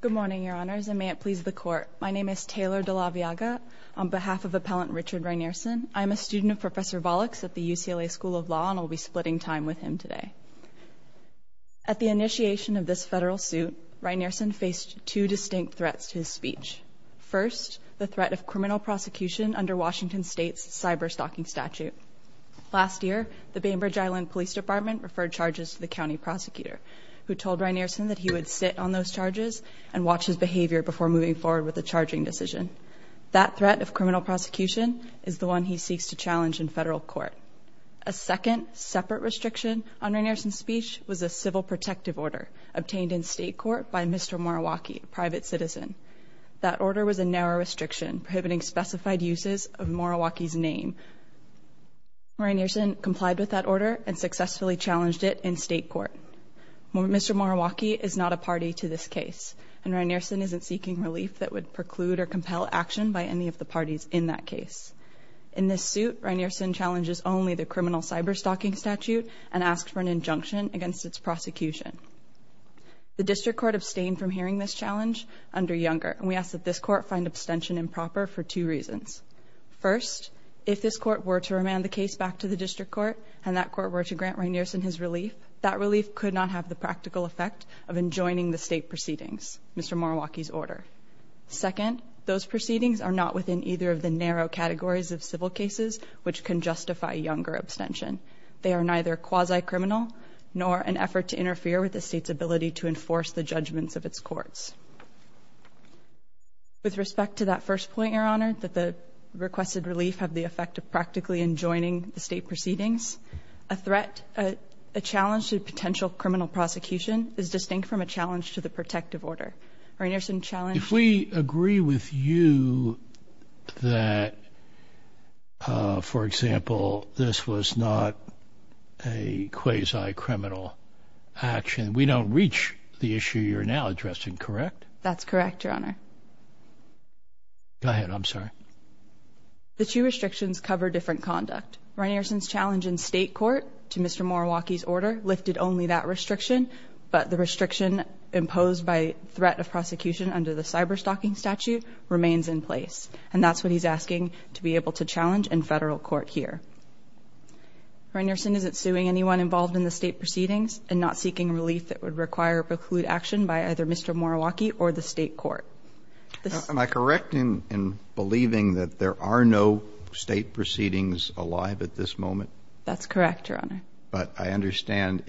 Good morning, Your Honors, and may it please the Court. My name is Taylor DeLaviaga. On behalf of Appellant Richard Rynearson, I'm a student of Professor Volokhs at the UCLA School of Law, and I'll be splitting time with him today. At the initiation of this federal suit, Rynearson faced two distinct threats to his speech. First, the threat of criminal prosecution under Washington state's cyberstalking statute. Last year, the Bainbridge Island Police Department referred charges to the county prosecutor, who told Rynearson that he would sit on those charges and watch his behavior before moving forward with a charging decision. That threat of criminal prosecution is the one he seeks to challenge in federal court. A second, separate restriction on Rynearson's speech was a civil protective order obtained in state court by Mr. Moriwaki, a private citizen. That order was a narrow restriction prohibiting specified uses of Moriwaki's name. Rynearson complied with that order and successfully challenged it in state court. Mr. Moriwaki is not a party to this case, and Rynearson isn't seeking relief that would preclude or compel action by any of the parties in that case. In this suit, Rynearson challenges only the criminal cyberstalking statute and asks for an injunction against its prosecution. The district court abstained from hearing this challenge under Younger, and we ask that this court find abstention improper for two reasons. First, if this court were to remand the case back to the district court, and that court were to grant Rynearson his relief, that relief could not have the practical effect of enjoining the state proceedings, Mr. Moriwaki's order. Second, those proceedings are not within either of the narrow categories of civil cases which can justify Younger abstention. They are neither quasi-criminal nor an effort to interfere with the state's ability to enforce the judgments of its courts. With respect to that first point, Your Honor, that the requested relief have the effect of practically enjoining the state proceedings, a threat, a challenge to potential criminal prosecution is distinct from a challenge to the protective order. Rynearson challenged- If we agree with you that, for example, this was not a quasi-criminal action, we don't reach the issue you're now addressing, correct? That's correct, Your Honor. Go ahead, I'm sorry. The two restrictions cover different conduct. Rynearson's challenge in state court to Mr. Moriwaki's order lifted only that restriction, but the restriction imposed by threat of prosecution under the cyber-stalking statute remains in place, and that's what he's asking to be able to challenge in federal court here. Rynearson isn't suing anyone involved in the state proceedings and not seeking relief that would require preclude action by either Mr. Moriwaki or the state court. Am I correct in believing that there are no state proceedings alive at this moment? That's correct, Your Honor. But I understand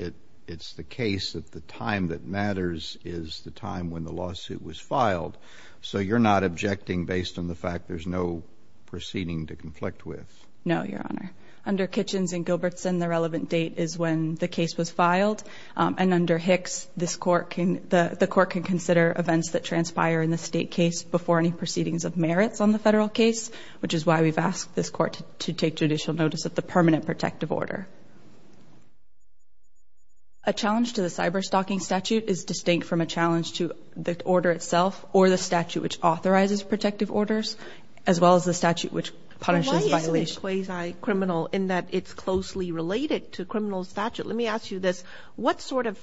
it's the case that the time that matters is the time when the lawsuit was filed, so you're not objecting based on the fact there's no proceeding to conflict with? No, Your Honor. Under Kitchens and Gilbertson, the relevant date is when the case was filed, and under Hicks, the court can consider events that transpire in the state case before any proceedings of merits on the federal case, which is why we've asked this court to take judicial notice of the permanent protective order. A challenge to the cyber-stalking statute is distinct from a challenge to the order itself or the statute which authorizes protective orders, as well as the statute which punishes violation. Why is it quasi-criminal in that it's closely related to criminal statute? Let me ask you this. What sort of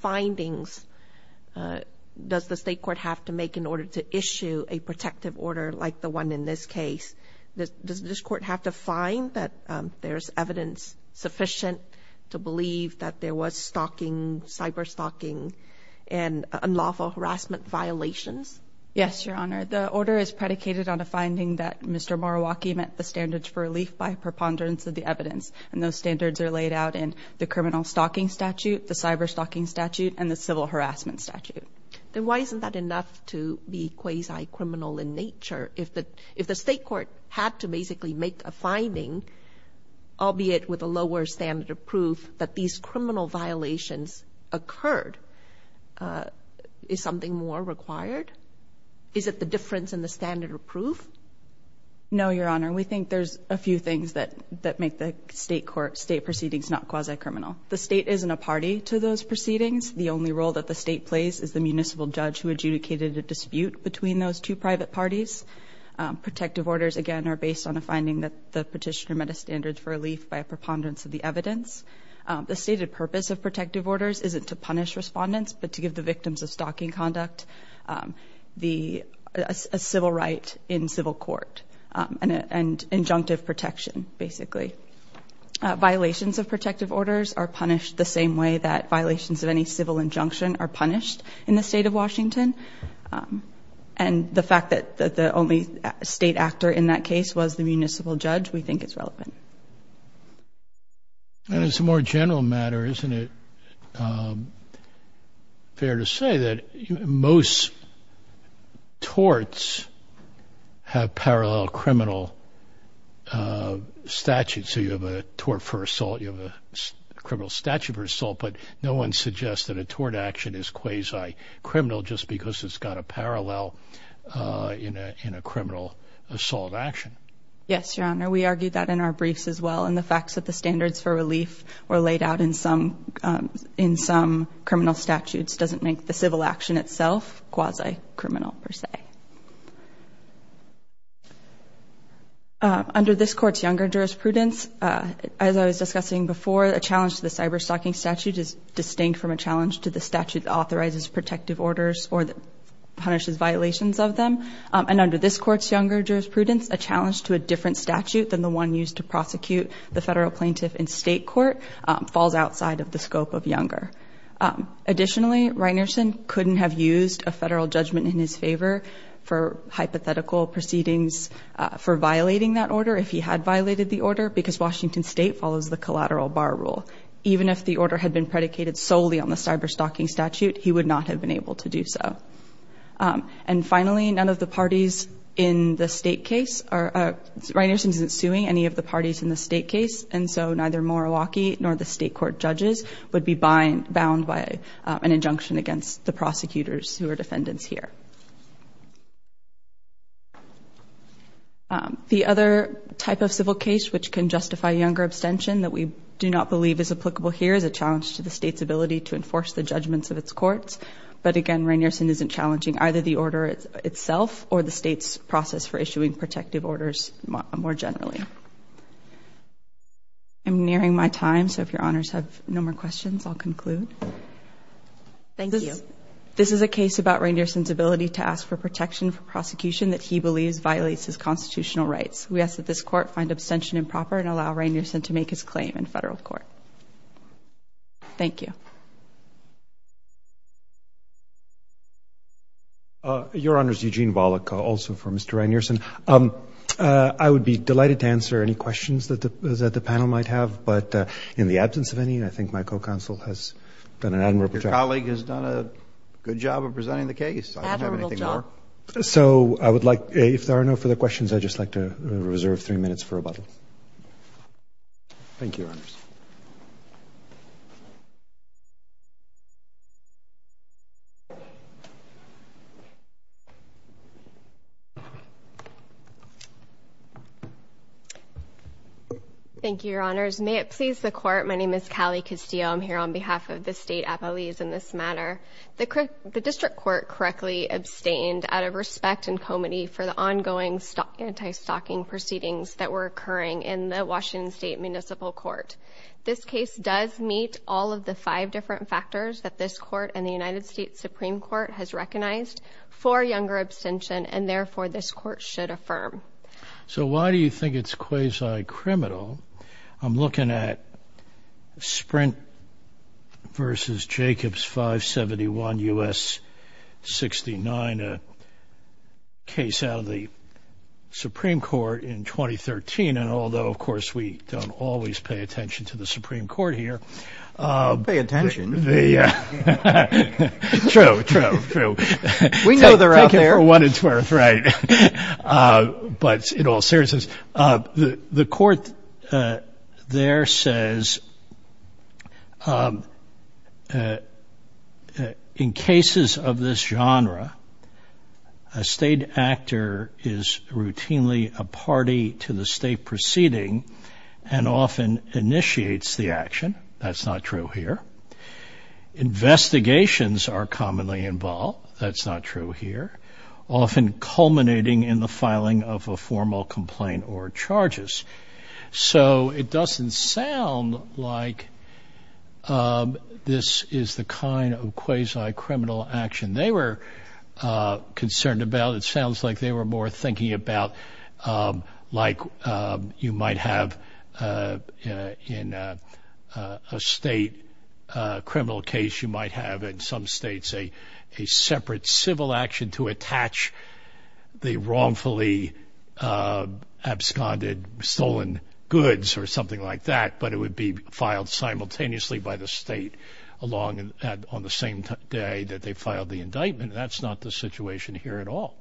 findings does the state court have to make in order to issue a protective order like the one in this case? Does this court have to find that there's evidence sufficient to believe that there was stalking, cyber-stalking, and unlawful harassment violations? Yes, Your Honor. The order is predicated on a finding that Mr. Moriwaki met the standards for relief by preponderance of the evidence, and those standards are laid out in the criminal-stalking statute, the cyber-stalking statute, and the civil-harassment statute. Then why isn't that enough to be quasi-criminal in nature? If the state court had to basically make a finding, albeit with a lower standard of proof, that these criminal violations occurred, is something more required? Is it the difference in the standard of proof? No, Your Honor. We think there's a few things that make the state proceedings not quasi-criminal. The state isn't a party to those proceedings. The only role that the state plays is the municipal judge who adjudicated a dispute between those two private parties. Protective orders, again, are based on a finding that the petitioner met a standard for relief by a preponderance of the evidence. The stated purpose of protective orders isn't to punish respondents, but to give the victims of stalking conduct a civil right in civil court, and injunctive protection, basically. Violations of protective orders are punished the same way that violations of any civil injunction are punished in the state of Washington. And the fact that the only state actor in that case was the municipal judge, we think it's relevant. And as a more general matter, isn't it fair to say that most torts have parallel criminal statutes? So you have a tort for assault, you have a criminal statute for assault, but no one suggests that a tort action is quasi-criminal just because it's got a parallel in a criminal assault action. Yes, Your Honor. We argued that in our briefs as well. And the fact that the standards for relief were laid out in some criminal statutes doesn't make the civil action itself quasi-criminal per se. Under this court's younger jurisprudence, as I was discussing before, a challenge to the cyber-stalking statute is distinct from a challenge to the statute that authorizes protective orders or that punishes violations of them. And under this court's younger jurisprudence, a challenge to a different statute than the one used to prosecute the federal plaintiff in state court falls outside of the scope of younger. Additionally, Reinerson couldn't have used a federal judgment in his favor for hypothetical proceedings for violating that order if he had violated the order, because Washington State follows the collateral bar rule. Even if the order had been predicated solely on the cyber-stalking statute, he would not have been able to do so. And finally, none of the parties in the state case, Reinerson isn't suing any of the parties in the state case, and so neither Morawaki nor the state court judges would be bound by an injunction against the prosecutors who are defendants here. The other type of civil case which can justify younger abstention that we do not believe is applicable here is a challenge to the state's ability to enforce the judgments of its courts. But again, Reinerson isn't challenging either the order itself or the state's process for issuing protective orders more generally. I'm nearing my time, so if your honors have no more questions, I'll conclude. Thank you. This is a case about Reinerson's ability to ask for protection for prosecution that he believes violates his constitutional rights. We ask that this court find abstention improper and allow Reinerson to make his claim in federal court. Thank you. Your honors, Eugene Wallach, also for Mr. Reinerson. I would be delighted to answer any questions that the panel might have, but in the absence of any, I think my co-counsel has done an admirable job. Your colleague has done a good job of presenting the case. I don't have anything more. Admirable job. So I would like, if there are no further questions, I'd just like to reserve three minutes for rebuttal. Thank you, your honors. Thank you, your honors. May it please the court. My name is Callie Castillo. I'm here on behalf of the state appellees in this matter. The district court correctly abstained out of respect and comity for the ongoing anti-stalking proceedings that were occurring in the Washington State Municipal Court. This case does meet all of the five different factors that this court and the United States Supreme Court has recognized for younger abstention, and therefore this court should affirm. So why do you think it's quasi-criminal? I'm looking at Sprint versus Jacobs 571 U.S. 69, a case out of the Supreme Court in 2013. And although, of course, we don't always pay attention to the Supreme Court here. Pay attention. True, true, true. We know they're out there. Take it for what it's worth, right. But in all seriousness, the court there says, in cases of this genre, a state actor is routinely a party to the state proceeding and often initiates the action. That's not true here. Investigations are commonly involved. That's not true here. Often culminating in the filing of a formal complaint or charges. So it doesn't sound like this is the kind of quasi-criminal action they were concerned about. It sounds like they were more thinking about like you might have in a state criminal case, you might have in some states a separate civil action to attach the wrongfully absconded stolen goods or something like that, but it would be filed simultaneously by the state along on the same day that they filed the indictment. That's not the situation here at all.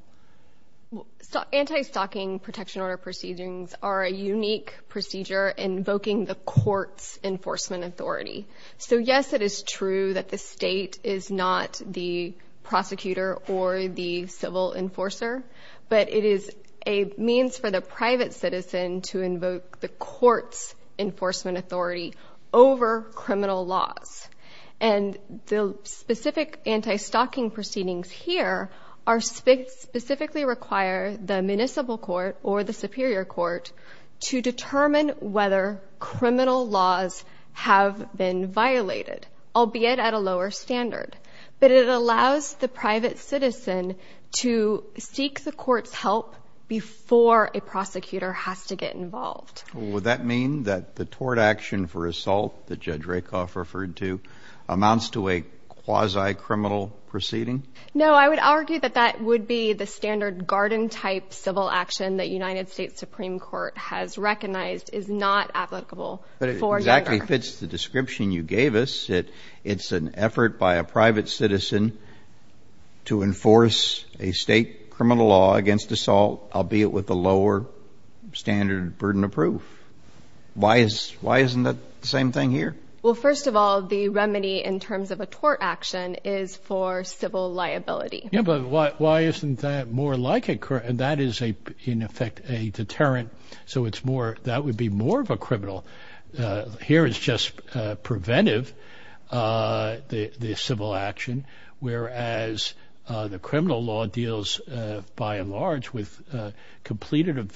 Anti-stalking protection order proceedings are a unique procedure invoking the court's enforcement authority. So yes, it is true that the state is not the prosecutor or the civil enforcer, but it is a means for the private citizen to invoke the court's enforcement authority over criminal laws. And the specific anti-stalking proceedings here are specifically require the municipal court or the superior court to determine whether criminal laws have been violated, albeit at a lower standard. But it allows the private citizen to seek the court's help before a prosecutor has to get involved. Would that mean that the tort action for assault that Judge Rakoff referred to amounts to a quasi-criminal proceeding? No, I would argue that that would be the standard garden-type civil action that United States Supreme Court has recognized is not applicable for Geiger. But it exactly fits the description you gave us. It's an effort by a private citizen to enforce a state criminal law against assault, albeit with a lower standard burden of proof. Why isn't that the same thing here? Well, first of all, the remedy in terms of a tort action is for civil liability. Yeah, but why isn't that more like a... And that is, in effect, a deterrent. So it's more... That would be more of a criminal. Here, it's just preventive, the civil action, whereas the criminal law deals, by and large, with completed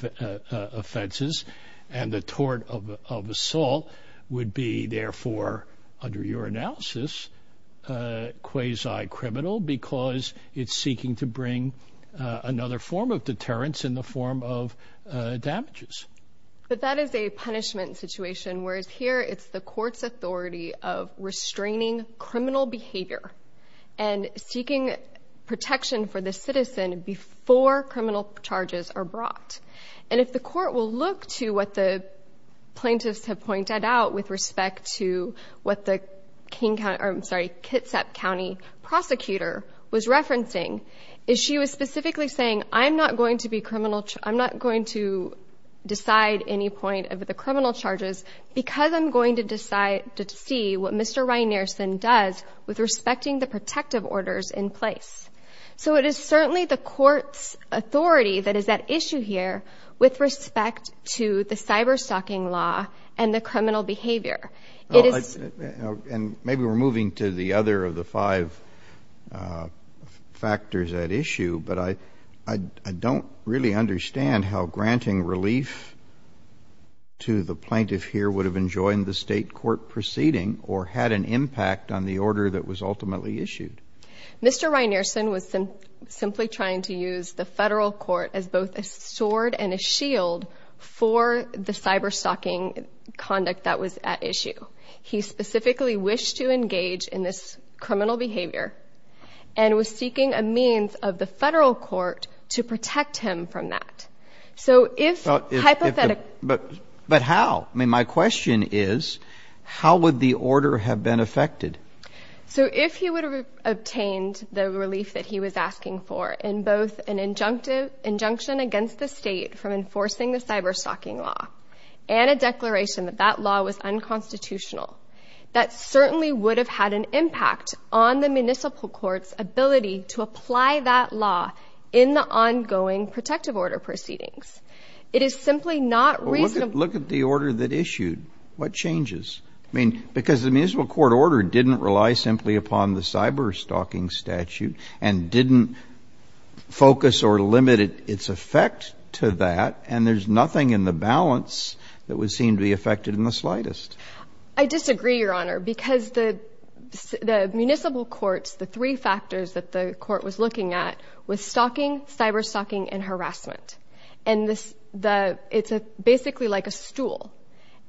offenses. And the tort of assault would be, therefore, under your analysis, quasi-criminal because it's seeking to bring another form of deterrence in the form of damages. But that is a punishment situation, whereas here, it's the court's authority of restraining criminal behavior and seeking protection for the citizen before criminal charges are brought. And if the court will look to what the plaintiffs have pointed out with respect to what the King County... I'm sorry, Kitsap County prosecutor was referencing, is she was specifically saying, I'm not going to decide any point of the criminal charges because I'm going to see what Mr. Ryan-Nierson does with respecting the protective orders in place. So it is certainly the court's authority that is at issue here with respect to the cyber-stalking law and the criminal behavior. And maybe we're moving to the other of the five factors at issue, but I don't really understand how granting relief to the plaintiff here would have enjoined the state court proceeding or had an impact on the order that was ultimately issued. Mr. Ryan-Nierson was simply trying to use the federal court as both a sword and a shield for the cyber-stalking conduct that was at issue. He specifically wished to engage in this criminal behavior and was seeking a means of the federal court to protect him from that. So if hypothetically... But how? I mean, my question is, how would the order have been affected? So if he would have obtained the relief that he was asking for in both an injunction against the state from enforcing the cyber-stalking law and a declaration that that law was unconstitutional, that certainly would have had an impact on the municipal court's ability to apply that law in the ongoing protective order proceedings. It is simply not reasonable. Look at the order that issued. What changes? I mean, because the municipal court order didn't rely simply upon the cyber-stalking statute and didn't focus or limit its effect to that, and there's nothing in the balance that would seem to be affected in the slightest. I disagree, Your Honor, because the municipal courts, the three factors that the court was looking at was stalking, cyber-stalking, and harassment. And it's basically like a stool.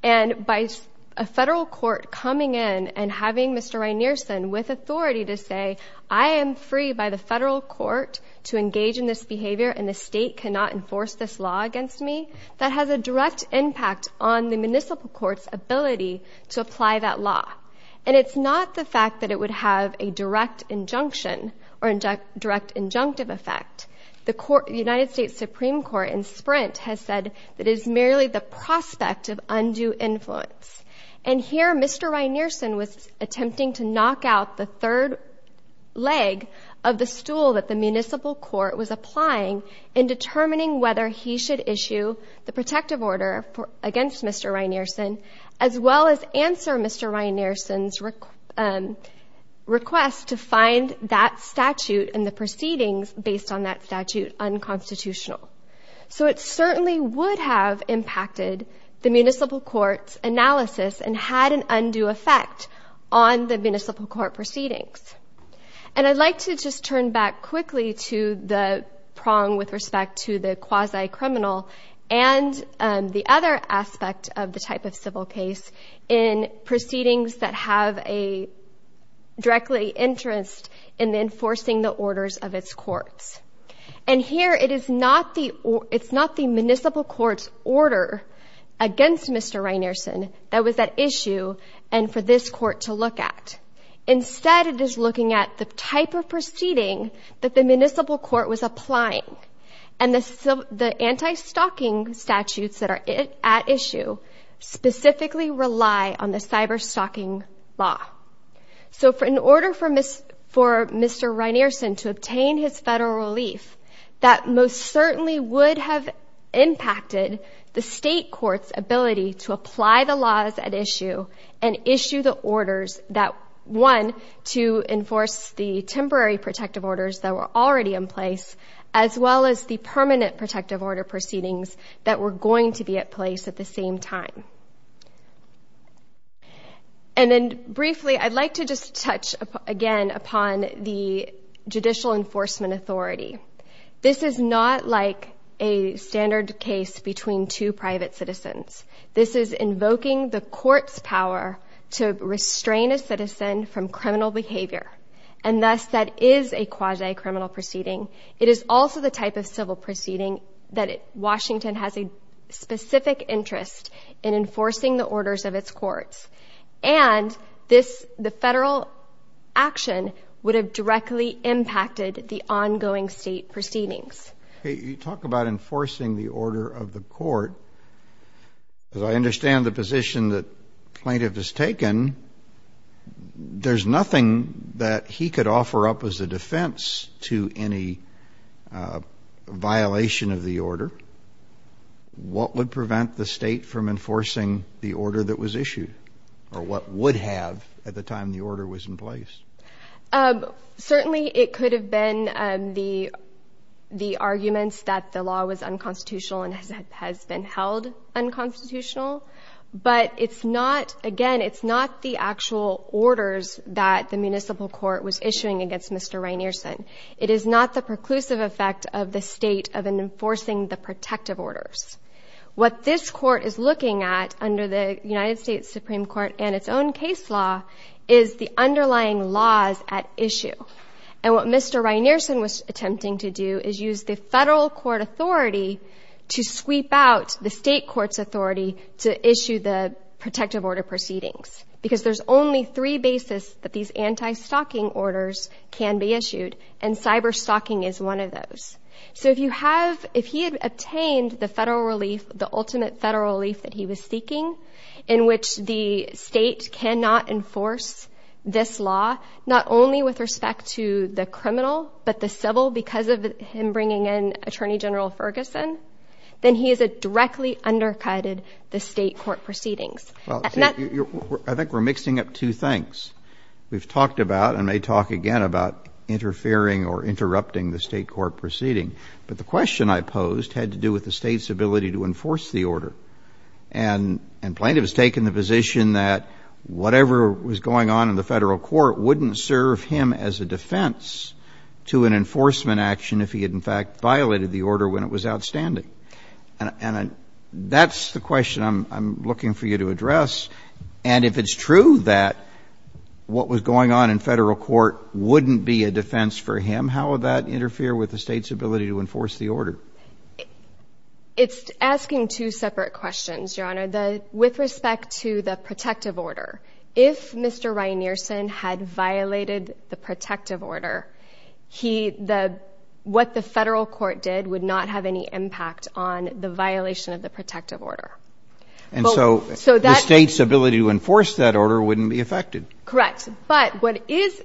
And by a federal court coming in and having Mr. Rynearson with authority to say, I am free by the federal court to engage in this behavior and the state cannot enforce this law against me, that has a direct impact on the municipal court's ability to apply that law. And it's not the fact that it would have a direct injunction or direct injunctive effect. The United States Supreme Court in Sprint has said that it is merely the prospect of undue influence. And here, Mr. Rynearson was attempting to knock out the third leg of the stool that the municipal court was applying in determining whether he should issue the protective order against Mr. Rynearson, as well as answer Mr. Rynearson's request to find that statute and the proceedings based on that statute unconstitutional. So it certainly would have impacted the municipal court's analysis and had an undue effect on the municipal court proceedings. And I'd like to just turn back quickly to the prong with respect to the quasi-criminal and the other aspect of the type of civil case in proceedings that have a directly interest in enforcing the orders of its courts. And here, it's not the municipal court's order against Mr. Rynearson that was at issue and for this court to look at. Instead, it is looking at the type of proceeding that the municipal court was applying. And the anti-stalking statutes that are at issue specifically rely on the cyber-stalking law. So in order for Mr. Rynearson to obtain his federal relief, that most certainly would have impacted the state court's ability to apply the laws at issue and issue the orders that, one, to enforce the temporary protective orders that were already in place, as well as the permanent protective order proceedings that were going to be at place at the same time. And then briefly, I'd like to just touch again upon the Judicial Enforcement Authority. This is not like a standard case between two private citizens. This is invoking the court's power to restrain a citizen from criminal behavior. And thus, that is a quasi-criminal proceeding. It is also the type of civil proceeding that Washington has a specific interest in enforcing the orders of its courts. And the federal action would have directly impacted the ongoing state proceedings. You talk about enforcing the order of the court. As I understand the position that plaintiff has taken, there's nothing that he could offer up as a defense to any violation of the order. What would prevent the state from enforcing the order that was issued? Or what would have at the time the order was in place? Certainly, it could have been the arguments that the law was unconstitutional and has been held unconstitutional. But it's not, again, it's not the actual orders that the municipal court was issuing against Mr. Rynearson. It is not the preclusive effect of the state of enforcing the protective orders. What this court is looking at under the United States Supreme Court and its own case law is the underlying laws at issue. And what Mr. Rynearson was attempting to do is use the federal court authority to sweep out the state court's authority to issue the protective order proceedings. Because there's only three basis that these anti-stalking orders can be issued, and cyber-stalking is one of those. So if you have, if he had obtained the federal relief, the ultimate federal relief that he was seeking, in which the state cannot enforce this law, not only with respect to the criminal, but the civil because of him bringing in Attorney General Ferguson, then he has directly undercutted the state court proceedings. Well, I think we're mixing up two things. We've talked about, and may talk again about, interfering or interrupting the state court proceeding. But the question I posed had to do with the state's ability to enforce the order. And plaintiff has taken the position that whatever was going on in the federal court wouldn't serve him as a defense to an enforcement action if he had in fact violated the order when it was outstanding. And that's the question I'm looking for you to address. And if it's true that what was going on in federal court wouldn't be a defense for him, how would that interfere with the state's ability to enforce the order? It's asking two separate questions, Your Honor. With respect to the protective order, if Mr. Ryan Niersen had violated the protective order, what the federal court did would not have any impact on the violation of the protective order. And so the state's ability to enforce that order wouldn't be affected. Correct. But what is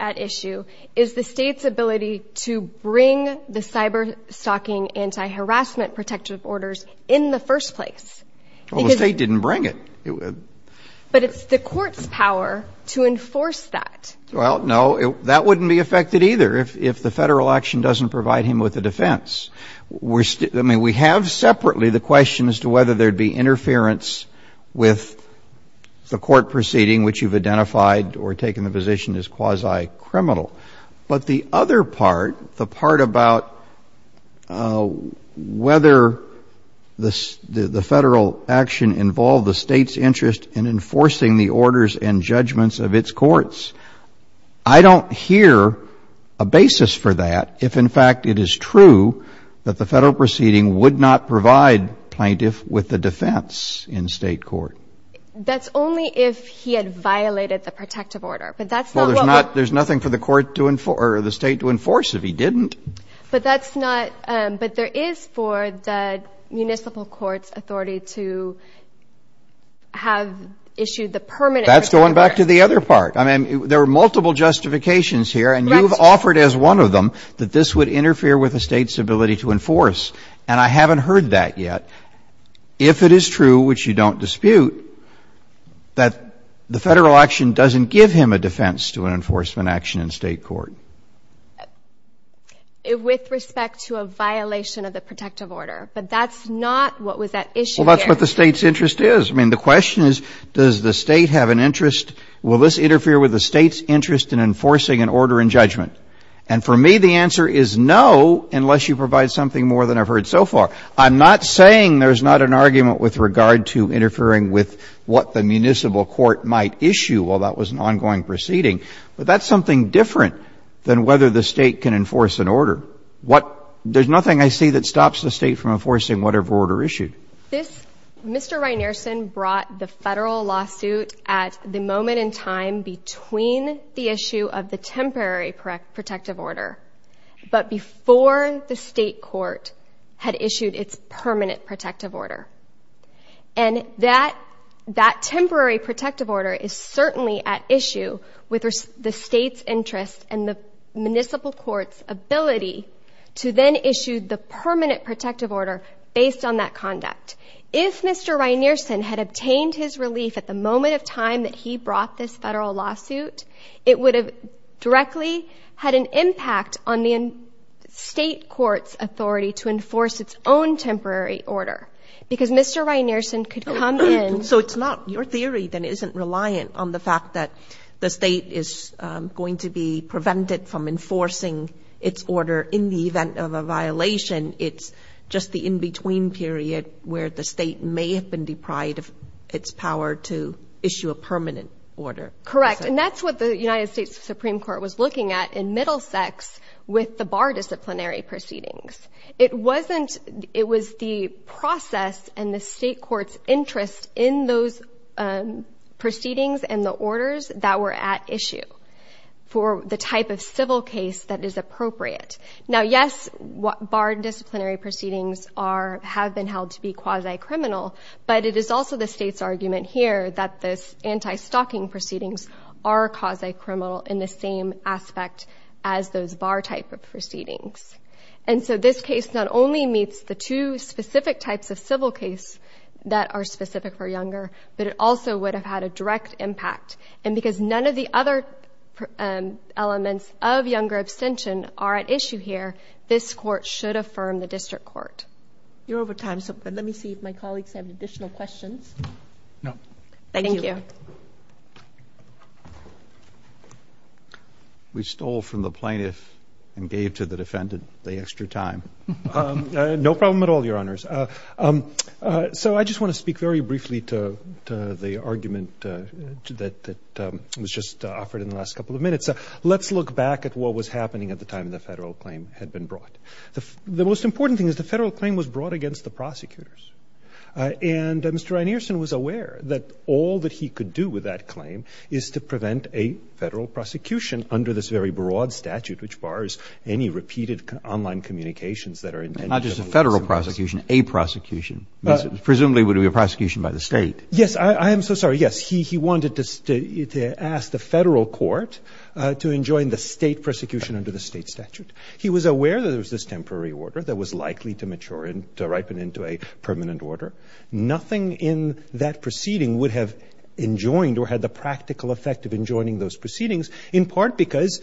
at issue is the state's ability to bring the cyber-stalking anti-harassment protective orders in the first place. Well, the state didn't bring it. But it's the court's power to enforce that. Well, no, that wouldn't be affected either if the federal action doesn't provide him with a defense. I mean, we have separately the question as to whether there'd be interference with the court proceeding, which you've identified or taken the position as quasi-criminal. But the other part, the part about whether the federal action involved the state's interest in enforcing the orders and judgments of its courts, I don't hear a basis for that if, in fact, it is true that the federal proceeding would not provide plaintiff with the defense in state court. That's only if he had violated the protective order, but that's not what- There's nothing for the state to enforce if he didn't. But that's not, but there is for the municipal court's authority to have issued the permanent- That's going back to the other part. I mean, there are multiple justifications here and you've offered as one of them that this would interfere with the state's ability to enforce, and I haven't heard that yet. If it is true, which you don't dispute, that the federal action doesn't give him a defense to an enforcement action in state court. With respect to a violation of the protective order, but that's not what was at issue here. Well, that's what the state's interest is. I mean, the question is, does the state have an interest? Will this interfere with the state's interest in enforcing an order and judgment? And for me, the answer is no, unless you provide something more than I've heard so far. I'm not saying there's not an argument with regard to interfering with what the municipal court might issue while that was an ongoing proceeding, but that's something different than whether the state can enforce an order. What, there's nothing I see that stops the state from enforcing whatever order issued. This, Mr. Rynearson brought the federal lawsuit at the moment in time between the issue of the temporary protective order, but before the state court had issued its permanent protective order. And that temporary protective order is certainly at issue with the state's interest and the municipal court's ability to then issue the permanent protective order based on that conduct. If Mr. Rynearson had obtained his relief at the moment of time that he brought this federal lawsuit, it would have directly had an impact on the state court's authority to enforce its own temporary order because Mr. Rynearson could come in. So it's not, your theory then isn't reliant on the fact that the state is going to be prevented from enforcing its order in the event of a violation. It's just the in-between period where the state may have been deprived of its power to issue a permanent order. Correct, and that's what the United States Supreme Court was looking at in Middlesex with the bar disciplinary proceedings. It wasn't, it was the process and the state court's interest in those proceedings and the orders that were at issue for the type of civil case that is appropriate. Now, yes, bar disciplinary proceedings have been held to be quasi-criminal, but it is also the state's argument here that this anti-stalking proceedings are quasi-criminal in the same aspect as those bar type of proceedings. And so this case not only meets the two specific types of civil case that are specific for Younger, but it also would have had a direct impact. And because none of the other elements of Younger abstention are at issue here, this court should affirm the district court. You're over time, so let me see if my colleagues have additional questions. No. Thank you. We stole from the plaintiff and gave to the defendant the extra time. No problem at all, Your Honors. So I just want to speak very briefly to the argument that was just offered in the last couple of minutes. Let's look back at what was happening at the time the federal claim had been brought. The most important thing is the federal claim was brought against the prosecutors. And Mr. Rynearson was aware that all that he could do with that claim is to prevent a federal prosecution under this very broad statute, which bars any repeated online communications that are intended. Not just a federal prosecution, a prosecution. Presumably it would be a prosecution by the state. Yes, I am so sorry. Yes, he wanted to ask the federal court to enjoin the state prosecution under the state statute. He was aware that there was this temporary order that was likely to mature and to ripen into a permanent order. Nothing in that proceeding would have enjoined or had the practical effect of enjoining those proceedings, in part because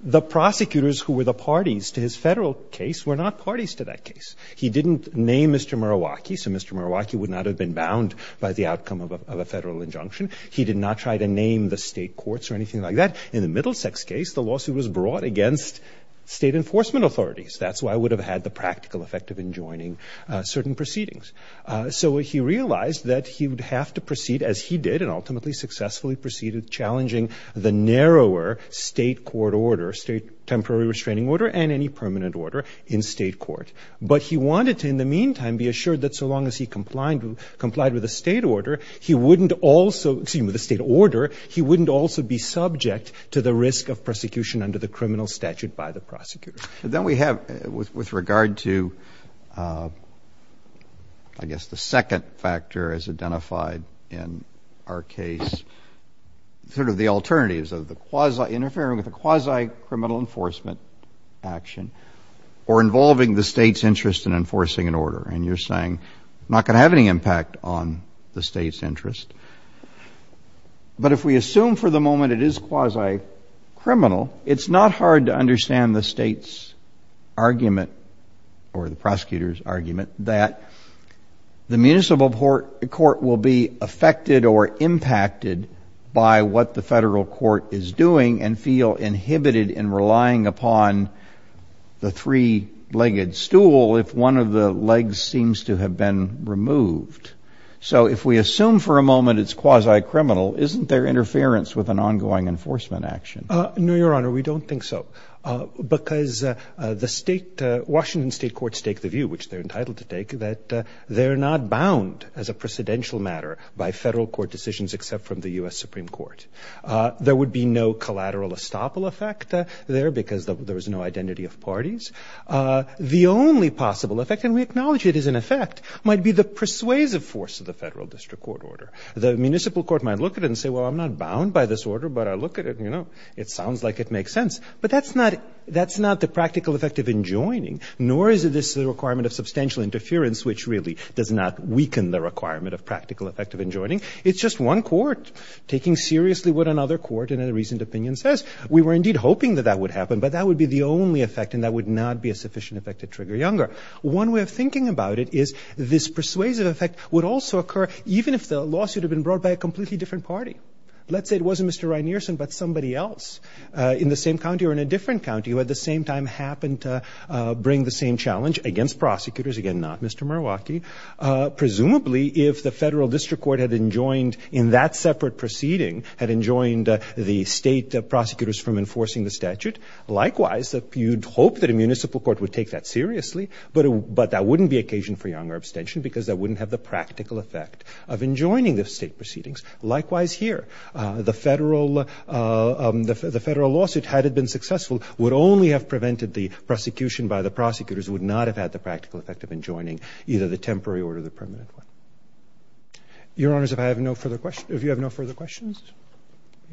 the prosecutors who were the parties to his federal case were not parties to that case. He didn't name Mr. Murawaki. So Mr. Murawaki would not have been bound by the outcome of a federal injunction. He did not try to name the state courts or anything like that. In the Middlesex case, the lawsuit was brought against state enforcement authorities. That's why it would have had the practical effect of enjoining certain proceedings. So he realized that he would have to proceed as he did and ultimately successfully proceeded challenging the narrower state court order, state temporary restraining order and any permanent order in state court. But he wanted to in the meantime be assured that so long as he complied with the state order, he wouldn't also, excuse me, the state order, he wouldn't also be subject to the risk of prosecution under the criminal statute by the prosecutor. Then we have with regard to, I guess the second factor is identified in our case, sort of the alternatives of the quasi interfering with the quasi criminal enforcement action or involving the state's interest in enforcing an order. And you're saying not gonna have any impact on the state's interest. But if we assume for the moment it is quasi criminal, it's not hard to understand the state's argument or the prosecutor's argument that the municipal court will be affected or impacted by what the federal court is doing and feel inhibited in relying upon the three legged stool if one of the legs seems to have been removed. So if we assume for a moment it's quasi criminal, isn't there interference with an ongoing enforcement action? No, your honor, we don't think so. Because the state, Washington state courts take the view, which they're entitled to take, that they're not bound as a precedential matter by federal court decisions except from the US Supreme Court. There would be no collateral estoppel effect there because there was no identity of parties. The only possible effect, and we acknowledge it is an effect, might be the persuasive force of the federal district court order. The municipal court might look at it and say, well, I'm not bound by this order, but I look at it and it sounds like it makes sense. But that's not the practical effect of enjoining, nor is this the requirement of substantial interference, which really does not weaken the requirement of practical effect of enjoining. It's just one court taking seriously what another court in a recent opinion says. We were indeed hoping that that would happen, but that would be the only effect and that would not be a sufficient effect to trigger Younger. One way of thinking about it is this persuasive effect would also occur even if the lawsuit had been brought by a completely different party. Let's say it wasn't Mr. Rynearson, but somebody else in the same county or in a different county who at the same time happened to bring the same challenge against prosecutors. Again, not Mr. Marwacki. Presumably, if the federal district court had enjoined in that separate proceeding, had enjoined the state prosecutors from enforcing the statute, likewise, you'd hope that a municipal court would take that seriously, but that wouldn't be occasion for Younger abstention because that wouldn't have the practical effect of enjoining the state proceedings. Likewise here, the federal lawsuit, had it been successful, would only have prevented the prosecution by the prosecutors, would not have had the practical effect of enjoining either the temporary or the permanent one. Your Honors, if I have no further questions, if you have no further questions.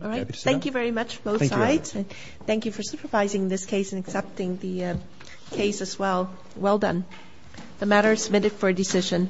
All right. Thank you very much both sides. Thank you for supervising this case and accepting the case as well. Well done. The matter is submitted for decision.